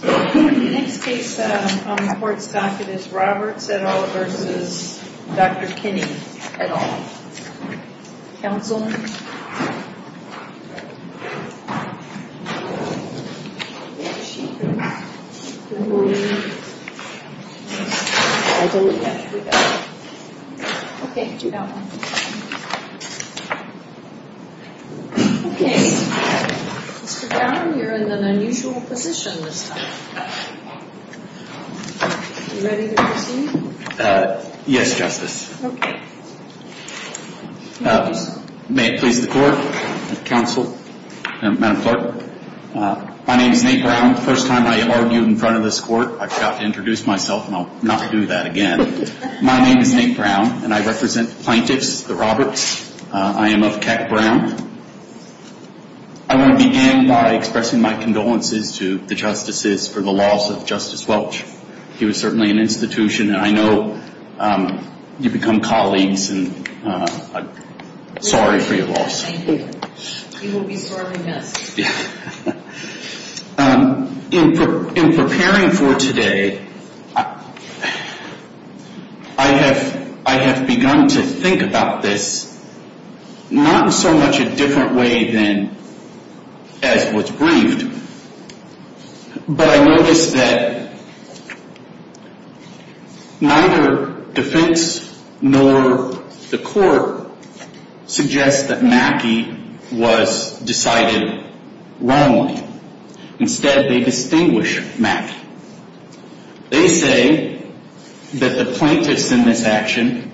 The next case on the court's docket is Roberts, et al. v. Dr. Kinney, et al. Counsel? Mr. Brown, you're in an unusual position this time. Are you ready to proceed? Yes, Justice. Okay. May it please the Court, Counsel, Madam Clerk. My name is Nate Brown. The first time I argued in front of this Court, I forgot to introduce myself, and I'll not do that again. My name is Nate Brown, and I represent plaintiffs, the Roberts. I am of Keck, Brown. I want to begin by expressing my condolences to the Justices for the loss of Justice Welch. He was certainly an institution, and I know you've become colleagues, and I'm sorry for your loss. Thank you. He will be sorely missed. In preparing for today, I have begun to think about this not in so much a different way than as was briefed, but I noticed that neither defense nor the Court suggests that Mackey was decided wrongly. Instead, they distinguish Mackey. They say that the plaintiffs in this action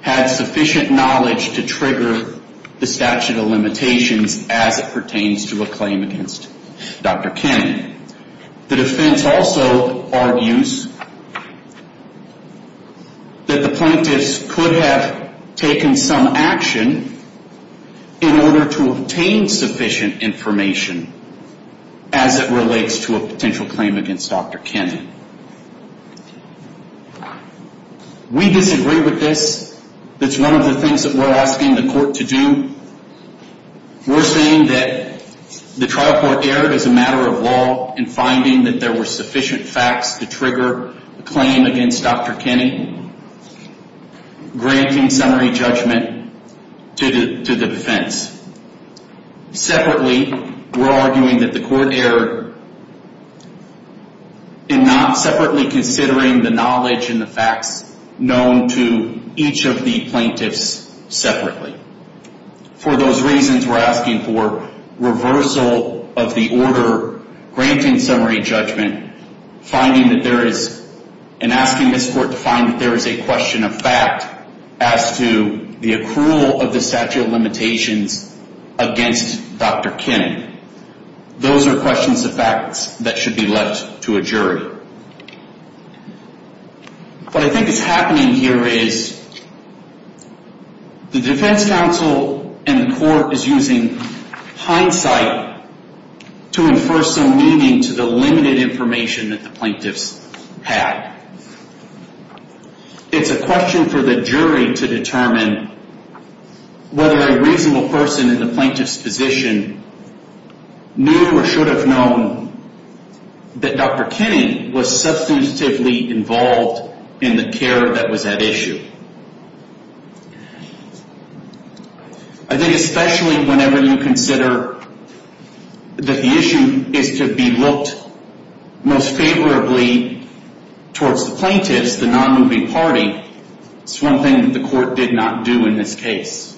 had sufficient knowledge to trigger the statute of limitations as it pertains to a claim against Dr. Kennan. The defense also argues that the plaintiffs could have taken some action in order to obtain sufficient information as it relates to a potential claim against Dr. Kennan. We disagree with this. That's one of the things that we're asking the Court to do. We're saying that the trial court erred as a matter of law in finding that there were sufficient facts to trigger a claim against Dr. Kennan, granting summary judgment to the defense. Separately, we're arguing that the court erred in not separately considering the knowledge and the facts known to each of the plaintiffs separately. For those reasons, we're asking for reversal of the order granting summary judgment and asking this Court to find that there is a question of fact as to the accrual of the statute of limitations against Dr. Kennan. Those are questions of facts that should be left to a jury. What I think is happening here is the defense counsel and the court is using hindsight to infer some meaning to the limited information that the plaintiffs had. It's a question for the jury to determine whether a reasonable person in the plaintiff's position knew or should have known that Dr. Kennan was substantively involved in the care that was at issue. I think especially whenever you consider that the issue is to be looked most favorably towards the plaintiffs, the non-moving party, it's one thing that the court did not do in this case.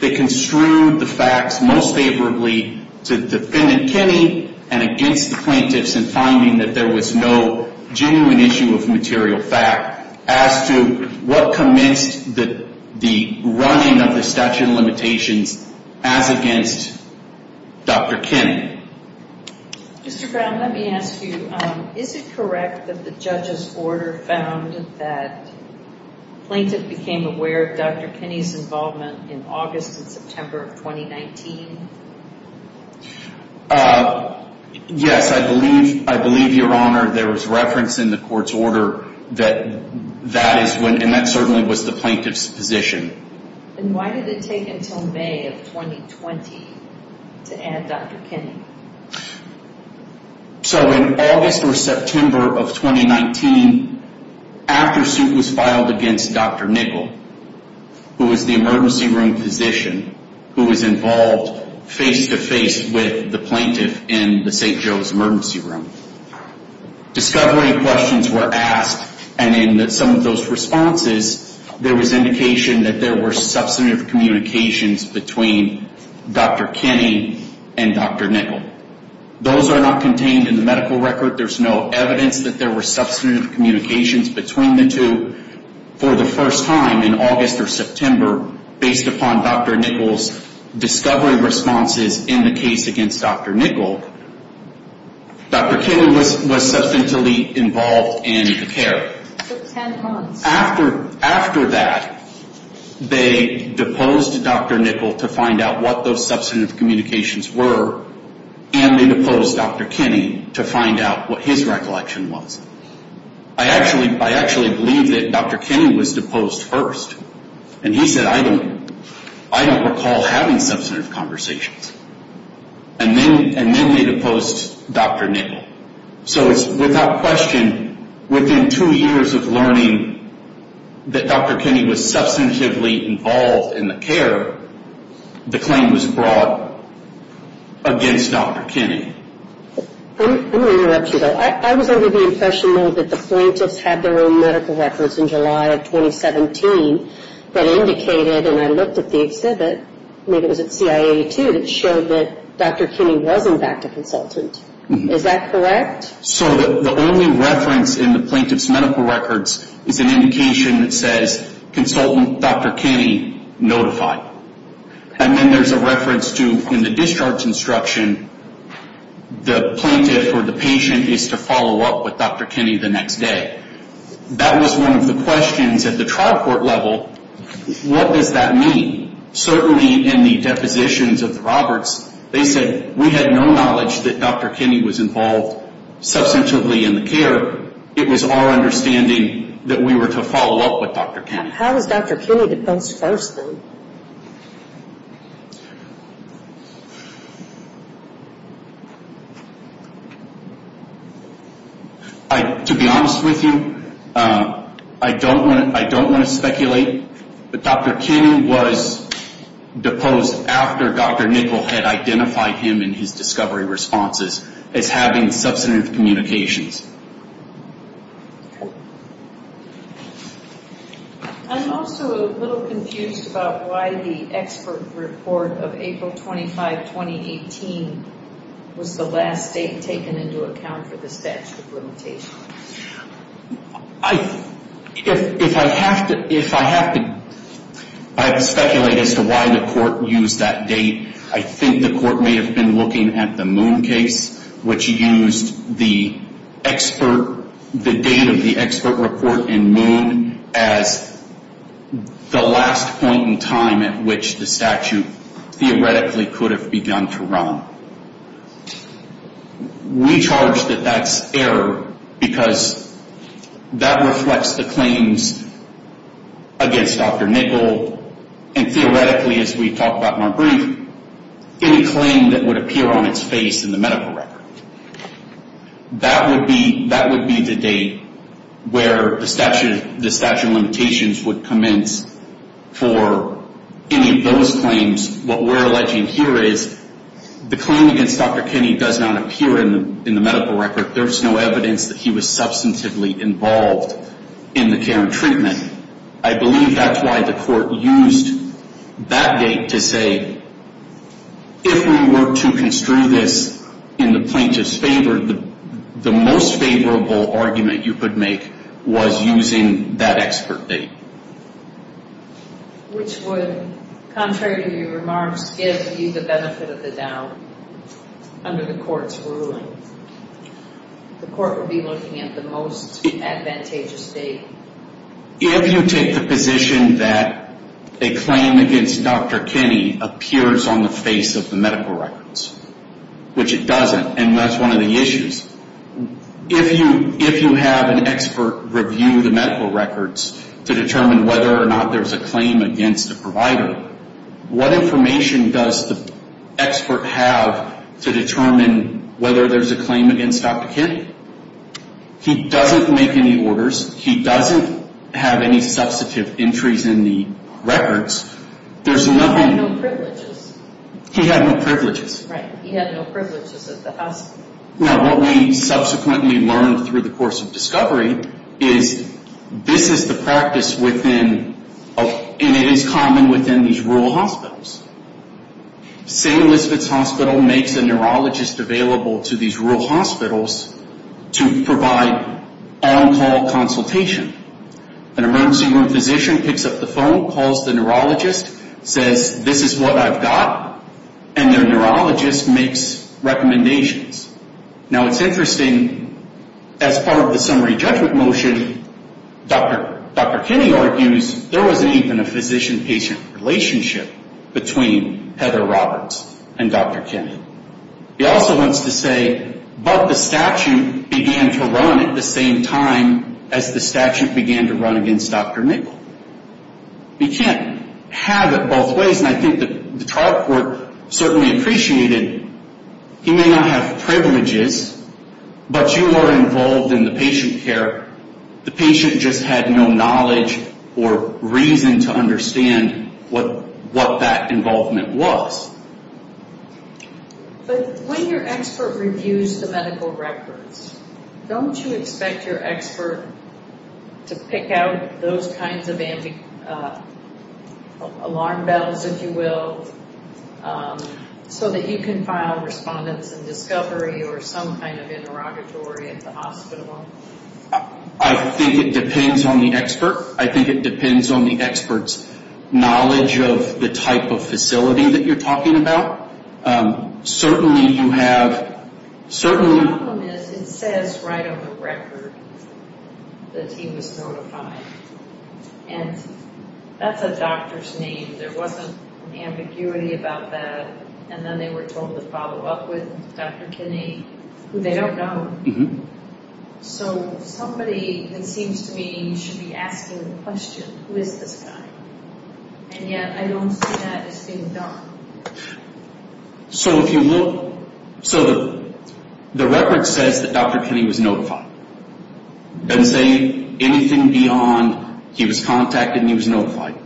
They construed the facts most favorably to Defendant Kenney and against the plaintiffs in finding that there was no genuine issue of material fact as to what commenced the running of the statute of limitations as against Dr. Kennan. Mr. Brown, let me ask you, is it correct that the judge's order found that the plaintiff became aware of Dr. Kenney's involvement in August and September of 2019? Yes, I believe, Your Honor, there was reference in the court's order that that is when, and that certainly was the plaintiff's position. And why did it take until May of 2020 to add Dr. Kenney? So in August or September of 2019, after suit was filed against Dr. Nichol, who was the emergency room physician who was involved face-to-face with the plaintiff in the St. Joe's emergency room, discovery questions were asked, and in some of those responses, there was indication that there were substantive communications between Dr. Kenney and Dr. Nichol. Those are not contained in the medical record. There's no evidence that there were substantive communications between the two. For the first time in August or September, based upon Dr. Nichol's discovery responses in the case against Dr. Nichol, Dr. Kenney was substantially involved in the care. It took 10 months. After that, they deposed Dr. Nichol to find out what those substantive communications were, and they deposed Dr. Kenney to find out what his recollection was. I actually believe that Dr. Kenney was deposed first, and he said, I don't recall having substantive conversations. And then they deposed Dr. Nichol. So it's without question, within two years of learning that Dr. Kenney was substantively involved in the care, the claim was brought against Dr. Kenney. I'm going to interrupt you, though. I was under the impression, though, that the plaintiffs had their own medical records in July of 2017 that indicated, and I looked at the exhibit, maybe it was at CIA too, that showed that Dr. Kenney was, in fact, a consultant. Is that correct? So the only reference in the plaintiff's medical records is an indication that says, consultant Dr. Kenney notified. And then there's a reference to, in the discharge instruction, the plaintiff or the patient is to follow up with Dr. Kenney the next day. That was one of the questions at the trial court level, what does that mean? Certainly in the depositions of the Roberts, they said, we had no knowledge that Dr. Kenney was involved substantively in the care. It was our understanding that we were to follow up with Dr. Kenney. How was Dr. Kenney deposed first? To be honest with you, I don't want to speculate. But Dr. Kenney was deposed after Dr. Nichol had identified him in his discovery responses as having substantive communications. I'm also a little confused about why the expert report of April 25, 2018, was the last state taken into account for the statute of limitations. If I have to speculate as to why the court used that date, I think the court may have been looking at the Moon case, which used the date of the expert report in Moon as the last point in time at which the statute theoretically could have begun to run. We charge that that's error because that reflects the claims against Dr. Nichol and theoretically, as we talked about in our brief, any claim that would appear on its face in the medical record. That would be the date where the statute of limitations would commence for any of those claims. What we're alleging here is the claim against Dr. Kenney does not appear in the medical record. There's no evidence that he was substantively involved in the care and treatment. I believe that's why the court used that date to say, if we were to construe this in the plaintiff's favor, the most favorable argument you could make was using that expert date. Which would, contrary to your remarks, give you the benefit of the doubt. Under the court's ruling, the court would be looking at the most advantageous date. If you take the position that a claim against Dr. Kenney appears on the face of the medical records, which it doesn't, and that's one of the issues, if you have an expert review the medical records to determine whether or not there's a claim against a provider, what information does the expert have to determine whether there's a claim against Dr. Kenney? He doesn't make any orders. He doesn't have any substantive entries in the records. There's nothing... He had no privileges. He had no privileges. Right. He had no privileges at the hospital. Now, what we subsequently learned through the course of discovery is, this is the practice within, and it is common within these rural hospitals. St. Elizabeth's Hospital makes a neurologist available to these rural hospitals to provide on-call consultation. An emergency room physician picks up the phone, calls the neurologist, says, this is what I've got, and their neurologist makes recommendations. Now, it's interesting, as part of the summary judgment motion, Dr. Kenney argues there wasn't even a physician-patient relationship between Heather Roberts and Dr. Kenney. He also wants to say, but the statute began to run at the same time as the statute began to run against Dr. Nichol. You can't have it both ways, and I think the trial court certainly appreciated he may not have privileges, but you are involved in the patient care. The patient just had no knowledge or reason to understand what that involvement was. But when your expert reviews the medical records, don't you expect your expert to pick out those kinds of alarm bells, if you will, so that you can file respondents in discovery or some kind of interrogatory at the hospital? I think it depends on the expert. I think it depends on the expert's knowledge of the type of facility that you're talking about. Certainly you have... The problem is it says right on the record that he was notified, and that's a doctor's name. There wasn't ambiguity about that, and then they were told to follow up with Dr. Kenney, who they don't know. So somebody, it seems to me, should be asking the question, who is this guy? And yet I don't see that as being done. So if you look... So the record says that Dr. Kenney was notified. It doesn't say anything beyond he was contacted and he was notified.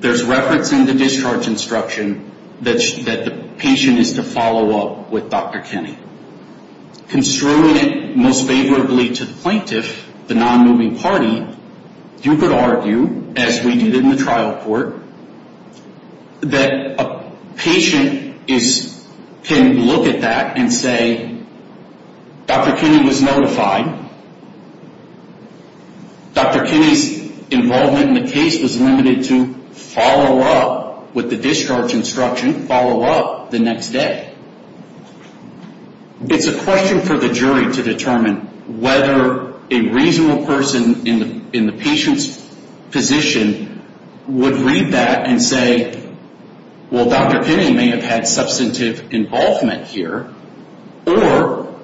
There's reference in the discharge instruction that the patient is to follow up with Dr. Kenney. Construing it most favorably to the plaintiff, the non-moving party, you could argue, as we did in the trial court, that a patient can look at that and say, Dr. Kenney was notified. Dr. Kenney's involvement in the case was limited to follow up with the discharge instruction, follow up the next day. It's a question for the jury to determine whether a reasonable person in the patient's position would read that and say, well, Dr. Kenney may have had substantive involvement here, or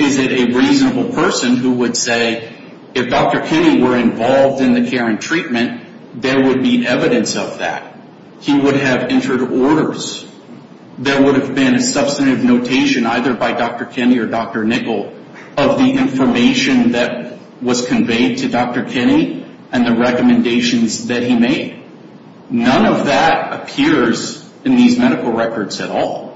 is it a reasonable person who would say, if Dr. Kenney were involved in the care and treatment, there would be evidence of that. He would have entered orders. There would have been a substantive notation, either by Dr. Kenney or Dr. Nichol, of the information that was conveyed to Dr. Kenney and the recommendations that he made. None of that appears in these medical records at all.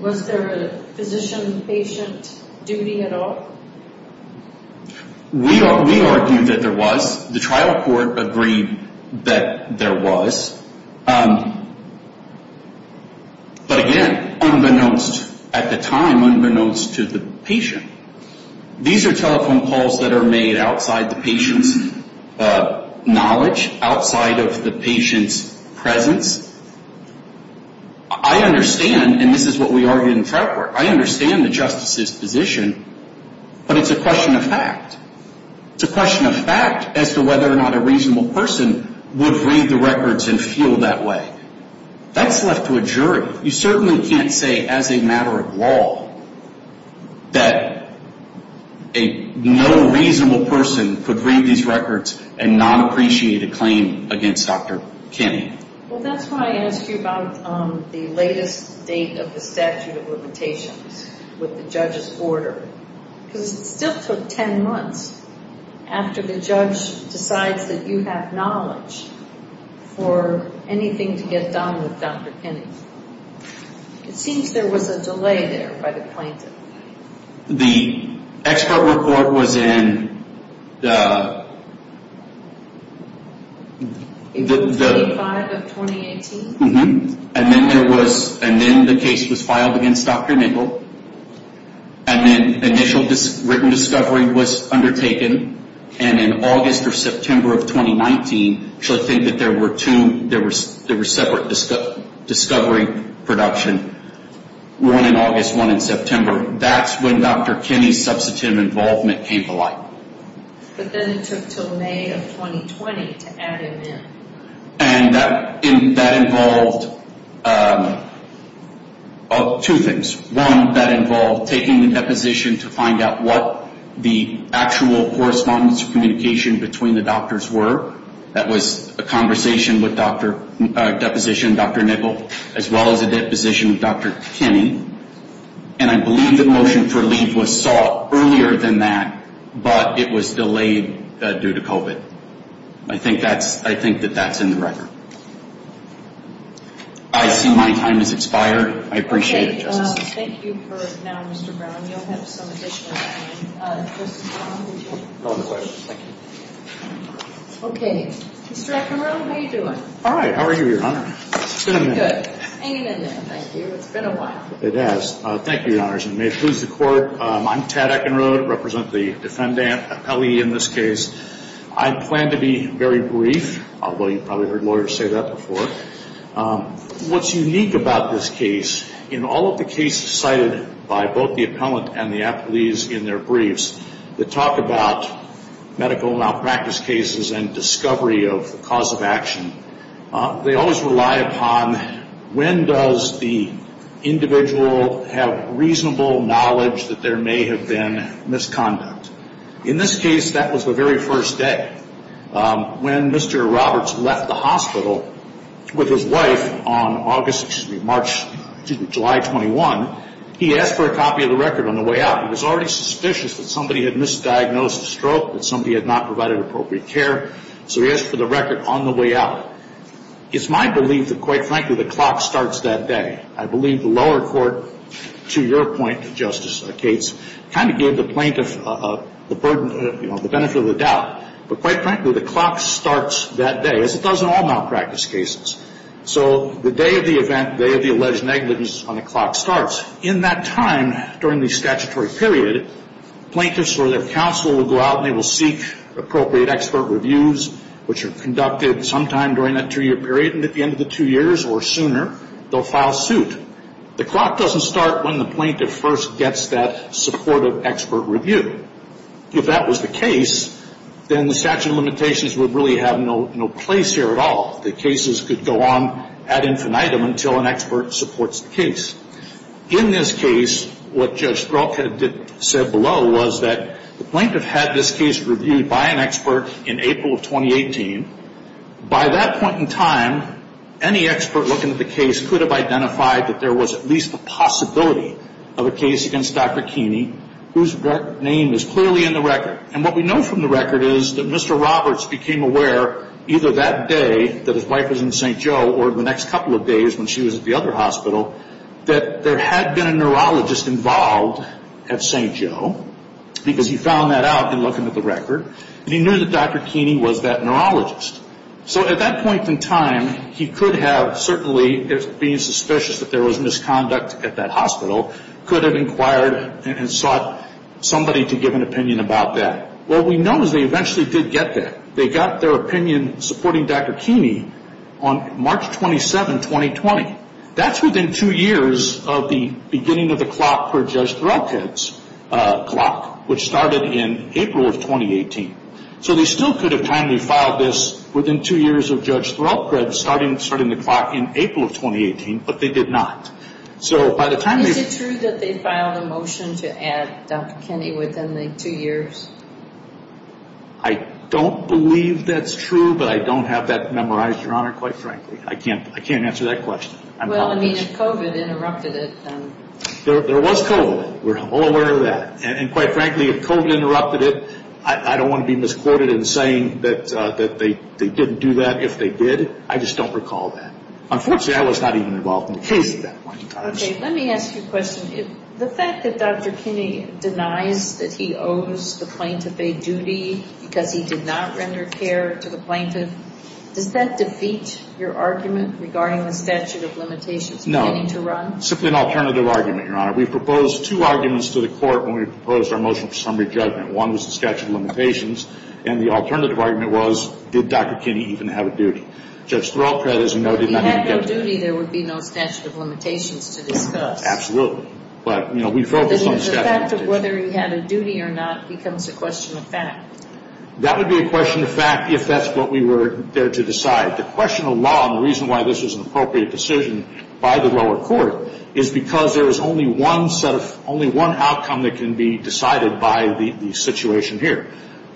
Was there a physician-patient duty at all? We argue that there was. The trial court agreed that there was. But again, unbeknownst at the time, unbeknownst to the patient, these are telephone calls that are made outside the patient's knowledge, outside of the patient's presence. I understand, and this is what we argue in the trial court, I understand the justice's position, but it's a question of fact. It's a question of fact as to whether or not a reasonable person would read the records and feel that way. That's left to a jury. You certainly can't say, as a matter of law, that a no reasonable person could read these records and not appreciate a claim against Dr. Kenney. Well, that's why I asked you about the latest date of the statute of limitations with the judge's order, because it still took 10 months after the judge decides that you have knowledge for anything to get done with Dr. Kenney. It seems there was a delay there by the plaintiff. The expert report was in the... April 25 of 2018? And then the case was filed against Dr. Nichol, and then initial written discovery was undertaken, and in August or September of 2019, so I think that there were separate discovery production, one in August, one in September. That's when Dr. Kenney's substantive involvement came to light. But then it took until May of 2020 to add him in. And that involved two things. One, that involved taking the deposition to find out what the actual correspondence of communication between the doctors were. That was a conversation with deposition, Dr. Nichol, as well as a deposition with Dr. Kenney. And I believe the motion for leave was sought earlier than that, but it was delayed due to COVID. I think that that's in the record. I see my time has expired. I appreciate it, Justice. Thank you for now, Mr. Brown. You'll have some additional time. Mr. Brown, would you? Go ahead with the questions. Thank you. Okay. Mr. Eckenrode, how are you doing? All right. How are you, Your Honor? It's been a minute. Good. Hang in there. Thank you. It's been a while. It has. Thank you, Your Honors. And may it please the Court, I'm Tad Eckenrode, representing the defendant, appellee in this case. I plan to be very brief, although you've probably heard lawyers say that before. What's unique about this case, in all of the cases cited by both the appellant and the appellees in their briefs that talk about medical malpractice cases and discovery of the cause of action, they always rely upon when does the individual have reasonable knowledge that there may have been misconduct. In this case, that was the very first day. When Mr. Roberts left the hospital with his wife on July 21, he asked for a copy of the record on the way out. He was already suspicious that somebody had misdiagnosed a stroke, that somebody had not provided appropriate care, so he asked for the record on the way out. It's my belief that, quite frankly, the clock starts that day. I believe the lower court, to your point, Justice Gates, kind of gave the plaintiff the benefit of the doubt. But quite frankly, the clock starts that day, as it does in all malpractice cases. So the day of the event, the day of the alleged negligence, is when the clock starts. In that time, during the statutory period, plaintiffs or their counsel will go out and they will seek appropriate expert reviews, which are conducted sometime during that two-year period. And at the end of the two years or sooner, they'll file suit. The clock doesn't start when the plaintiff first gets that supportive expert review. If that was the case, then the statute of limitations would really have no place here at all. The cases could go on ad infinitum until an expert supports the case. In this case, what Judge Strauch had said below was that the plaintiff had this case reviewed by an expert in April of 2018. By that point in time, any expert looking at the case could have identified that there was at least a possibility of a case against Dr. Keeney, whose name is clearly in the record. And what we know from the record is that Mr. Roberts became aware, either that day that his wife was in St. Joe, or the next couple of days when she was at the other hospital, that there had been a neurologist involved at St. Joe, because he found that out in looking at the record, and he knew that Dr. Keeney was that neurologist. So at that point in time, he could have certainly, being suspicious that there was misconduct at that hospital, could have inquired and sought somebody to give an opinion about that. What we know is they eventually did get that. They got their opinion supporting Dr. Keeney on March 27, 2020. That's within two years of the beginning of the clock for Judge Threlpred's clock, which started in April of 2018. So they still could have timely filed this within two years of Judge Threlpred starting the clock in April of 2018, but they did not. Is it true that they filed a motion to add Dr. Keeney within the two years? I don't believe that's true, but I don't have that memorized, Your Honor, quite frankly. I can't answer that question. Well, I mean, if COVID interrupted it. There was COVID. We're all aware of that. And quite frankly, if COVID interrupted it, I don't want to be misquoted in saying that they didn't do that. If they did, I just don't recall that. Unfortunately, I was not even involved in the case at that point in time. Okay, let me ask you a question. The fact that Dr. Keeney denies that he owes the plaintiff a duty because he did not render care to the plaintiff, does that defeat your argument regarding the statute of limitations? No. You're getting to run? It's simply an alternative argument, Your Honor. We proposed two arguments to the court when we proposed our motion for summary judgment. One was the statute of limitations, and the alternative argument was, did Dr. Keeney even have a duty? Judge Threlpred, as you know, did not even get to that. If he had no duty, there would be no statute of limitations to discuss. Absolutely. But, you know, we focused on the statute of limitations. Then the fact of whether he had a duty or not becomes a question of fact. That would be a question of fact if that's what we were there to decide. The question of law and the reason why this was an appropriate decision by the lower court is because there is only one outcome that can be decided by the situation here.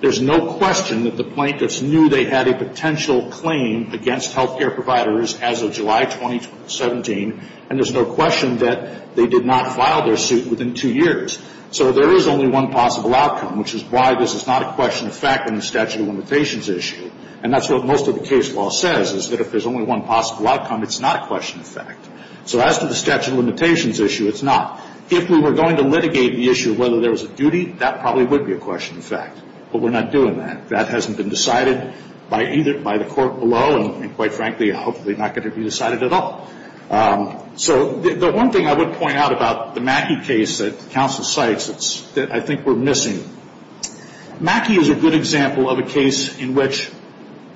There's no question that the plaintiffs knew they had a potential claim against health care providers as of July 2017, and there's no question that they did not file their suit within two years. So there is only one possible outcome, which is why this is not a question of fact in the statute of limitations issue. And that's what most of the case law says, is that if there's only one possible outcome, it's not a question of fact. So as to the statute of limitations issue, it's not. If we were going to litigate the issue of whether there was a duty, that probably would be a question of fact. But we're not doing that. That hasn't been decided by the court below, and quite frankly, hopefully not going to be decided at all. So the one thing I would point out about the Mackey case that counsel cites that I think we're missing, Mackey is a good example of a case in which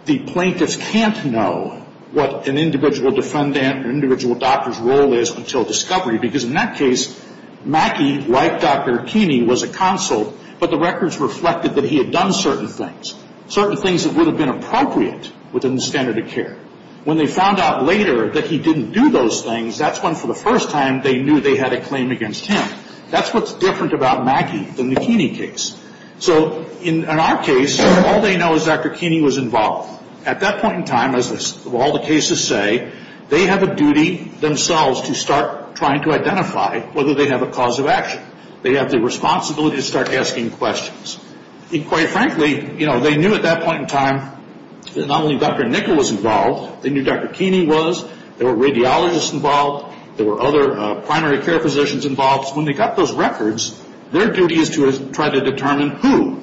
the plaintiffs can't know what an individual defendant or individual doctor's role is until discovery, because in that case, Mackey, like Dr. Keeney, was a consult, but the records reflected that he had done certain things, certain things that would have been appropriate within the standard of care. When they found out later that he didn't do those things, that's when for the first time they knew they had a claim against him. That's what's different about Mackey than the Keeney case. So in our case, all they know is Dr. Keeney was involved. At that point in time, as all the cases say, they have a duty themselves to start trying to identify whether they have a cause of action. They have the responsibility to start asking questions. And quite frankly, they knew at that point in time that not only Dr. Nickel was involved, they knew Dr. Keeney was, there were radiologists involved, there were other primary care physicians involved. When they got those records, their duty is to try to determine who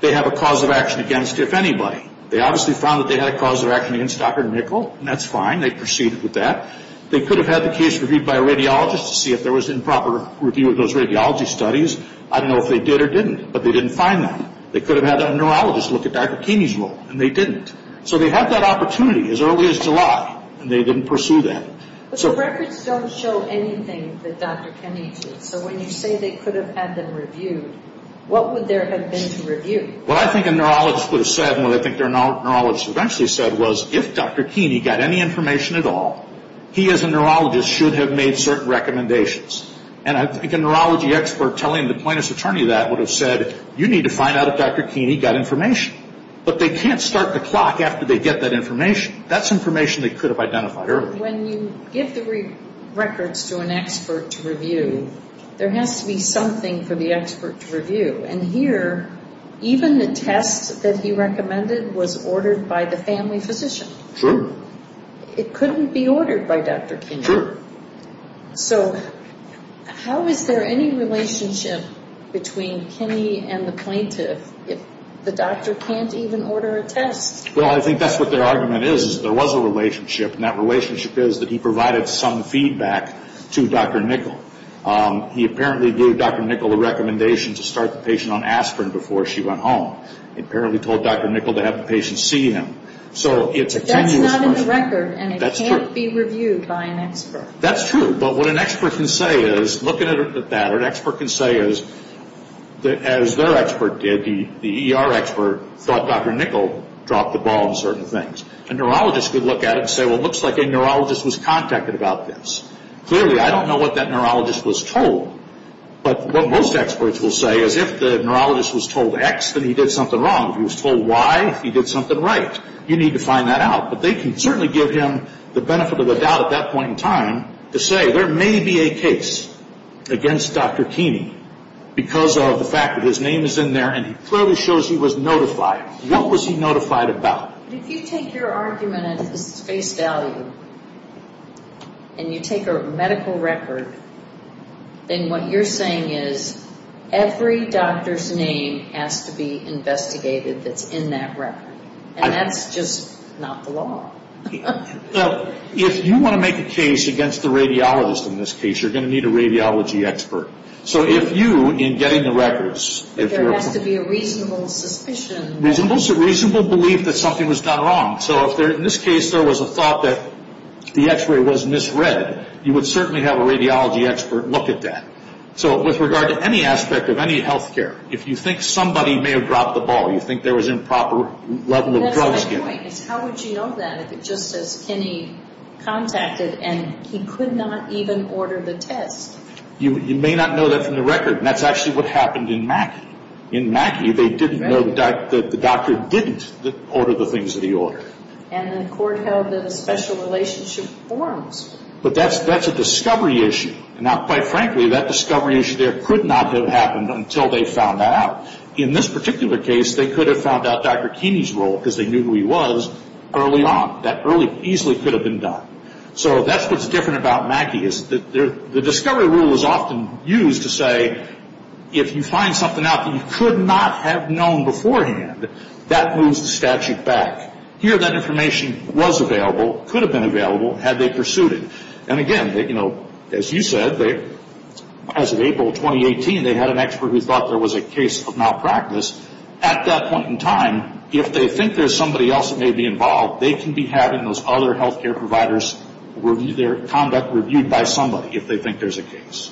they have a cause of action against, if anybody. They obviously found that they had a cause of action against Dr. Nickel, and that's fine. They proceeded with that. They could have had the case reviewed by a radiologist to see if there was improper review of those radiology studies. I don't know if they did or didn't, but they didn't find them. They could have had a neurologist look at Dr. Keeney's role, and they didn't. So they had that opportunity as early as July, and they didn't pursue that. But the records don't show anything that Dr. Kenney did. So when you say they could have had them reviewed, what would there have been to review? What I think a neurologist would have said, and what I think their neurologist eventually said, was if Dr. Keeney got any information at all, he as a neurologist should have made certain recommendations. And I think a neurology expert telling the plaintiff's attorney that would have said, you need to find out if Dr. Keeney got information. But they can't start the clock after they get that information. That's information they could have identified earlier. When you give the records to an expert to review, there has to be something for the expert to review. And here, even the test that he recommended was ordered by the family physician. Sure. It couldn't be ordered by Dr. Keeney. Sure. So how is there any relationship between Kenney and the plaintiff if the doctor can't even order a test? Well, I think that's what their argument is, is there was a relationship, and that relationship is that he provided some feedback to Dr. Nickell. He apparently gave Dr. Nickell a recommendation to start the patient on aspirin before she went home. He apparently told Dr. Nickell to have the patient see him. But that's not in the record, and it can't be reviewed by an expert. That's true. But what an expert can say is, looking at that, what an expert can say is, as their expert did, the ER expert thought Dr. Nickell dropped the ball on certain things. A neurologist could look at it and say, well, it looks like a neurologist was contacted about this. Clearly, I don't know what that neurologist was told. But what most experts will say is, if the neurologist was told X, then he did something wrong. If he was told Y, he did something right. You need to find that out. But they can certainly give him the benefit of the doubt at that point in time to say, there may be a case against Dr. Keeney because of the fact that his name is in there, and he clearly shows he was notified. What was he notified about? If you take your argument at face value, and you take a medical record, then what you're saying is, every doctor's name has to be investigated that's in that record. And that's just not the law. If you want to make a case against the radiologist in this case, you're going to need a radiology expert. So if you, in getting the records, if you're... But there has to be a reasonable suspicion. Reasonable belief that something was done wrong. So if, in this case, there was a thought that the X-ray was misread, you would certainly have a radiology expert look at that. So with regard to any aspect of any health care, if you think somebody may have dropped the ball, you think there was improper level of drugs given... That's my point, is how would you know that if it just says, Keeney contacted and he could not even order the test? You may not know that from the record. And that's actually what happened in Mackey. In Mackey, they didn't know that the doctor didn't order the things that he ordered. And the court held that a special relationship forms. But that's a discovery issue. Now, quite frankly, that discovery issue there could not have happened until they found out. In this particular case, they could have found out Dr. Keeney's role, because they knew who he was, early on. That easily could have been done. So that's what's different about Mackey. The discovery rule is often used to say, if you find something out that you could not have known beforehand, that moves the statute back. Here, that information was available, could have been available, had they pursued it. And again, as you said, as of April 2018, they had an expert who thought there was a case of malpractice. At that point in time, if they think there's somebody else that may be involved, they can be having those other health care providers review their conduct, reviewed by somebody if they think there's a case.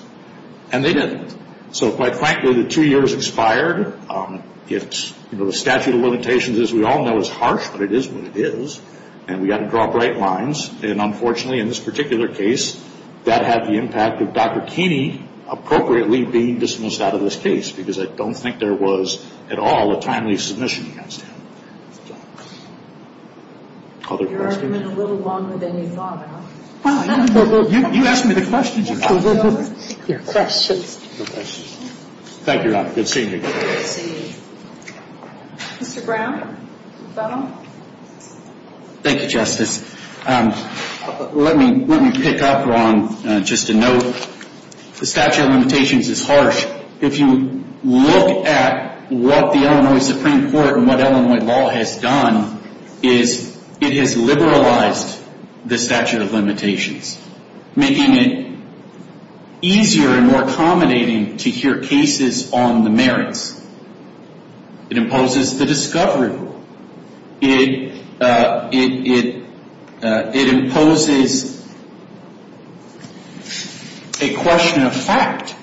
And they didn't. So quite frankly, the two years expired. The statute of limitations, as we all know, is harsh, but it is what it is. And we've got to draw bright lines. And unfortunately, in this particular case, that had the impact of Dr. Keeney appropriately being dismissed out of this case, because I don't think there was at all a timely submission against him. Other questions? Your argument a little longer than you thought. You asked me the questions, you know. Your questions. Your questions. Thank you, Your Honor. Good seeing you. Mr. Brown? Thank you, Justice. Let me pick up on just a note. The statute of limitations is harsh. If you look at what the Illinois Supreme Court and what Illinois law has done, it has liberalized the statute of limitations, making it easier and more accommodating to hear cases on the merits. It imposes the discovery rule. It imposes a question of fact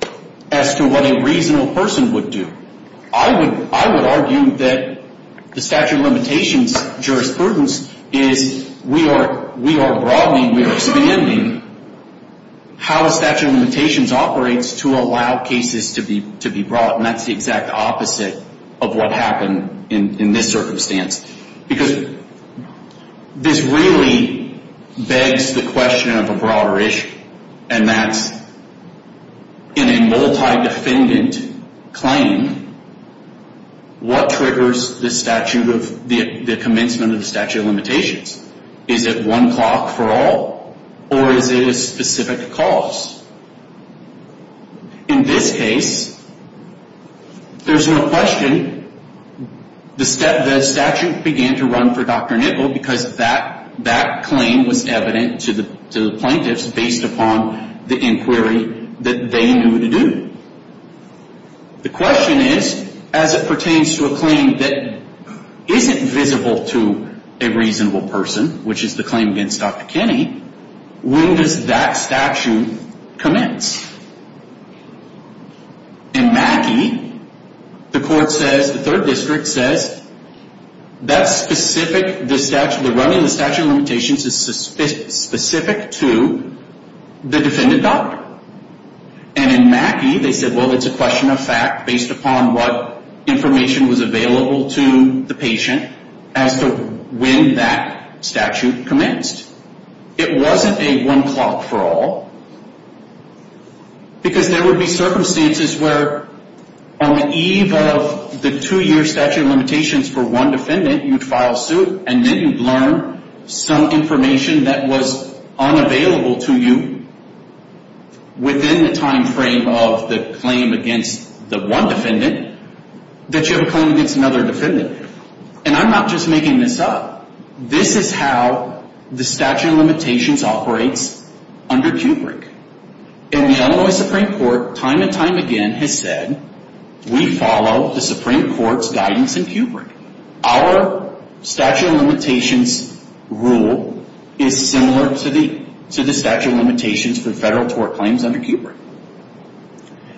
as to what a reasonable person would do. I would argue that the statute of limitations jurisprudence is, we are broadening, we are expanding how a statute of limitations operates to allow cases to be brought, and that's the exact opposite of what happened in this circumstance. Because this really begs the question of a broader issue, and that's in a multi-defendant claim, what triggers the statute of, the commencement of the statute of limitations? Is it one clock for all, or is it a specific cause? In this case, there's no question the statute began to run for Dr. Nipple because that claim was evident to the plaintiffs based upon the inquiry that they knew to do. The question is, as it pertains to a claim that isn't visible to a reasonable person, which is the claim against Dr. Kinney, when does that statute commence? In Mackey, the court says, the third district says, that's specific, the statute, the running of the statute of limitations is specific to the defendant doctor. And in Mackey, they said, well, it's a question of fact based upon what information was available to the patient as to when that statute commenced. It wasn't a one clock for all, because there would be circumstances where, on the eve of the two year statute of limitations for one defendant, you'd file suit, and then you'd learn some information that was unavailable to you. Within the time frame of the claim against the one defendant, that you have a claim against another defendant. And I'm not just making this up. This is how the statute of limitations operates under Kubrick. And the Illinois Supreme Court, time and time again, has said, we follow the Supreme Court's guidance in Kubrick. Our statute of limitations rule is similar to the statute of limitations for federal tort claims under Kubrick.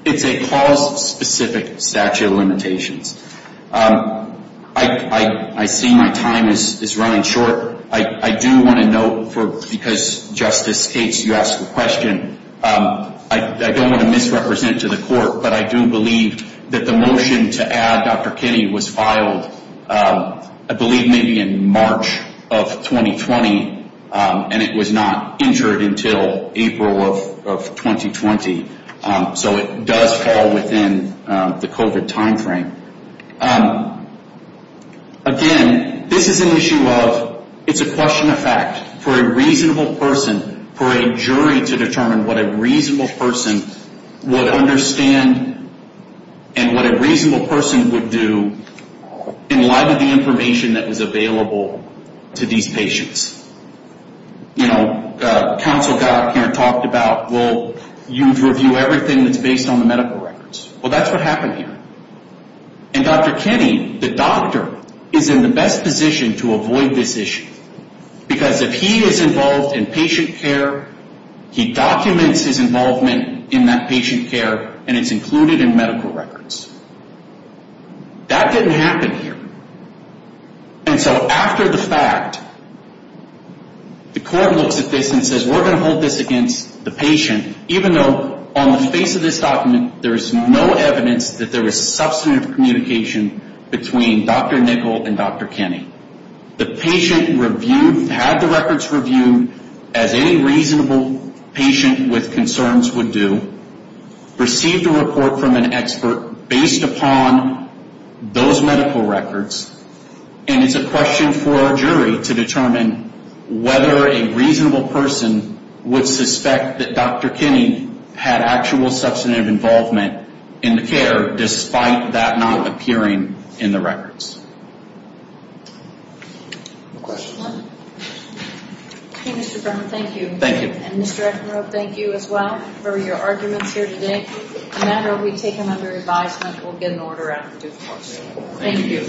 It's a cause specific statute of limitations. I see my time is running short. I do want to note, because Justice States, you asked the question, I don't want to misrepresent it to the court, but I do believe that the motion to add Dr. Kenny was filed, I believe maybe in March of 2020, and it was not entered until April of 2020. So it does fall within the COVID time frame. Again, this is an issue of, it's a question of fact. For a reasonable person, for a jury to determine what a reasonable person would understand and what a reasonable person would do in light of the information that was available to these patients. You know, counsel got up here and talked about, well, you review everything that's based on the medical records. Well, that's what happened here. And Dr. Kenny, the doctor, is in the best position to avoid this issue, because if he is involved in patient care, he documents his involvement in that patient care, and it's included in medical records. That didn't happen here. And so after the fact, the court looks at this and says, we're going to hold this against the patient, even though on the face of this document, there is no evidence that there was substantive communication between Dr. Nickel and Dr. Kenny. The patient reviewed, had the records reviewed, as any reasonable patient with concerns would do, received a report from an expert based upon those medical records, and it's a question for a jury to determine whether a reasonable person would suspect that Dr. Kenny had actual substantive involvement in the care, but despite that not appearing in the records. Question? Okay, Mr. Brennan, thank you. Thank you. And Mr. Eckenrode, thank you as well for your arguments here today. The matter will be taken under advisement. We'll get an order out in due course. Thank you.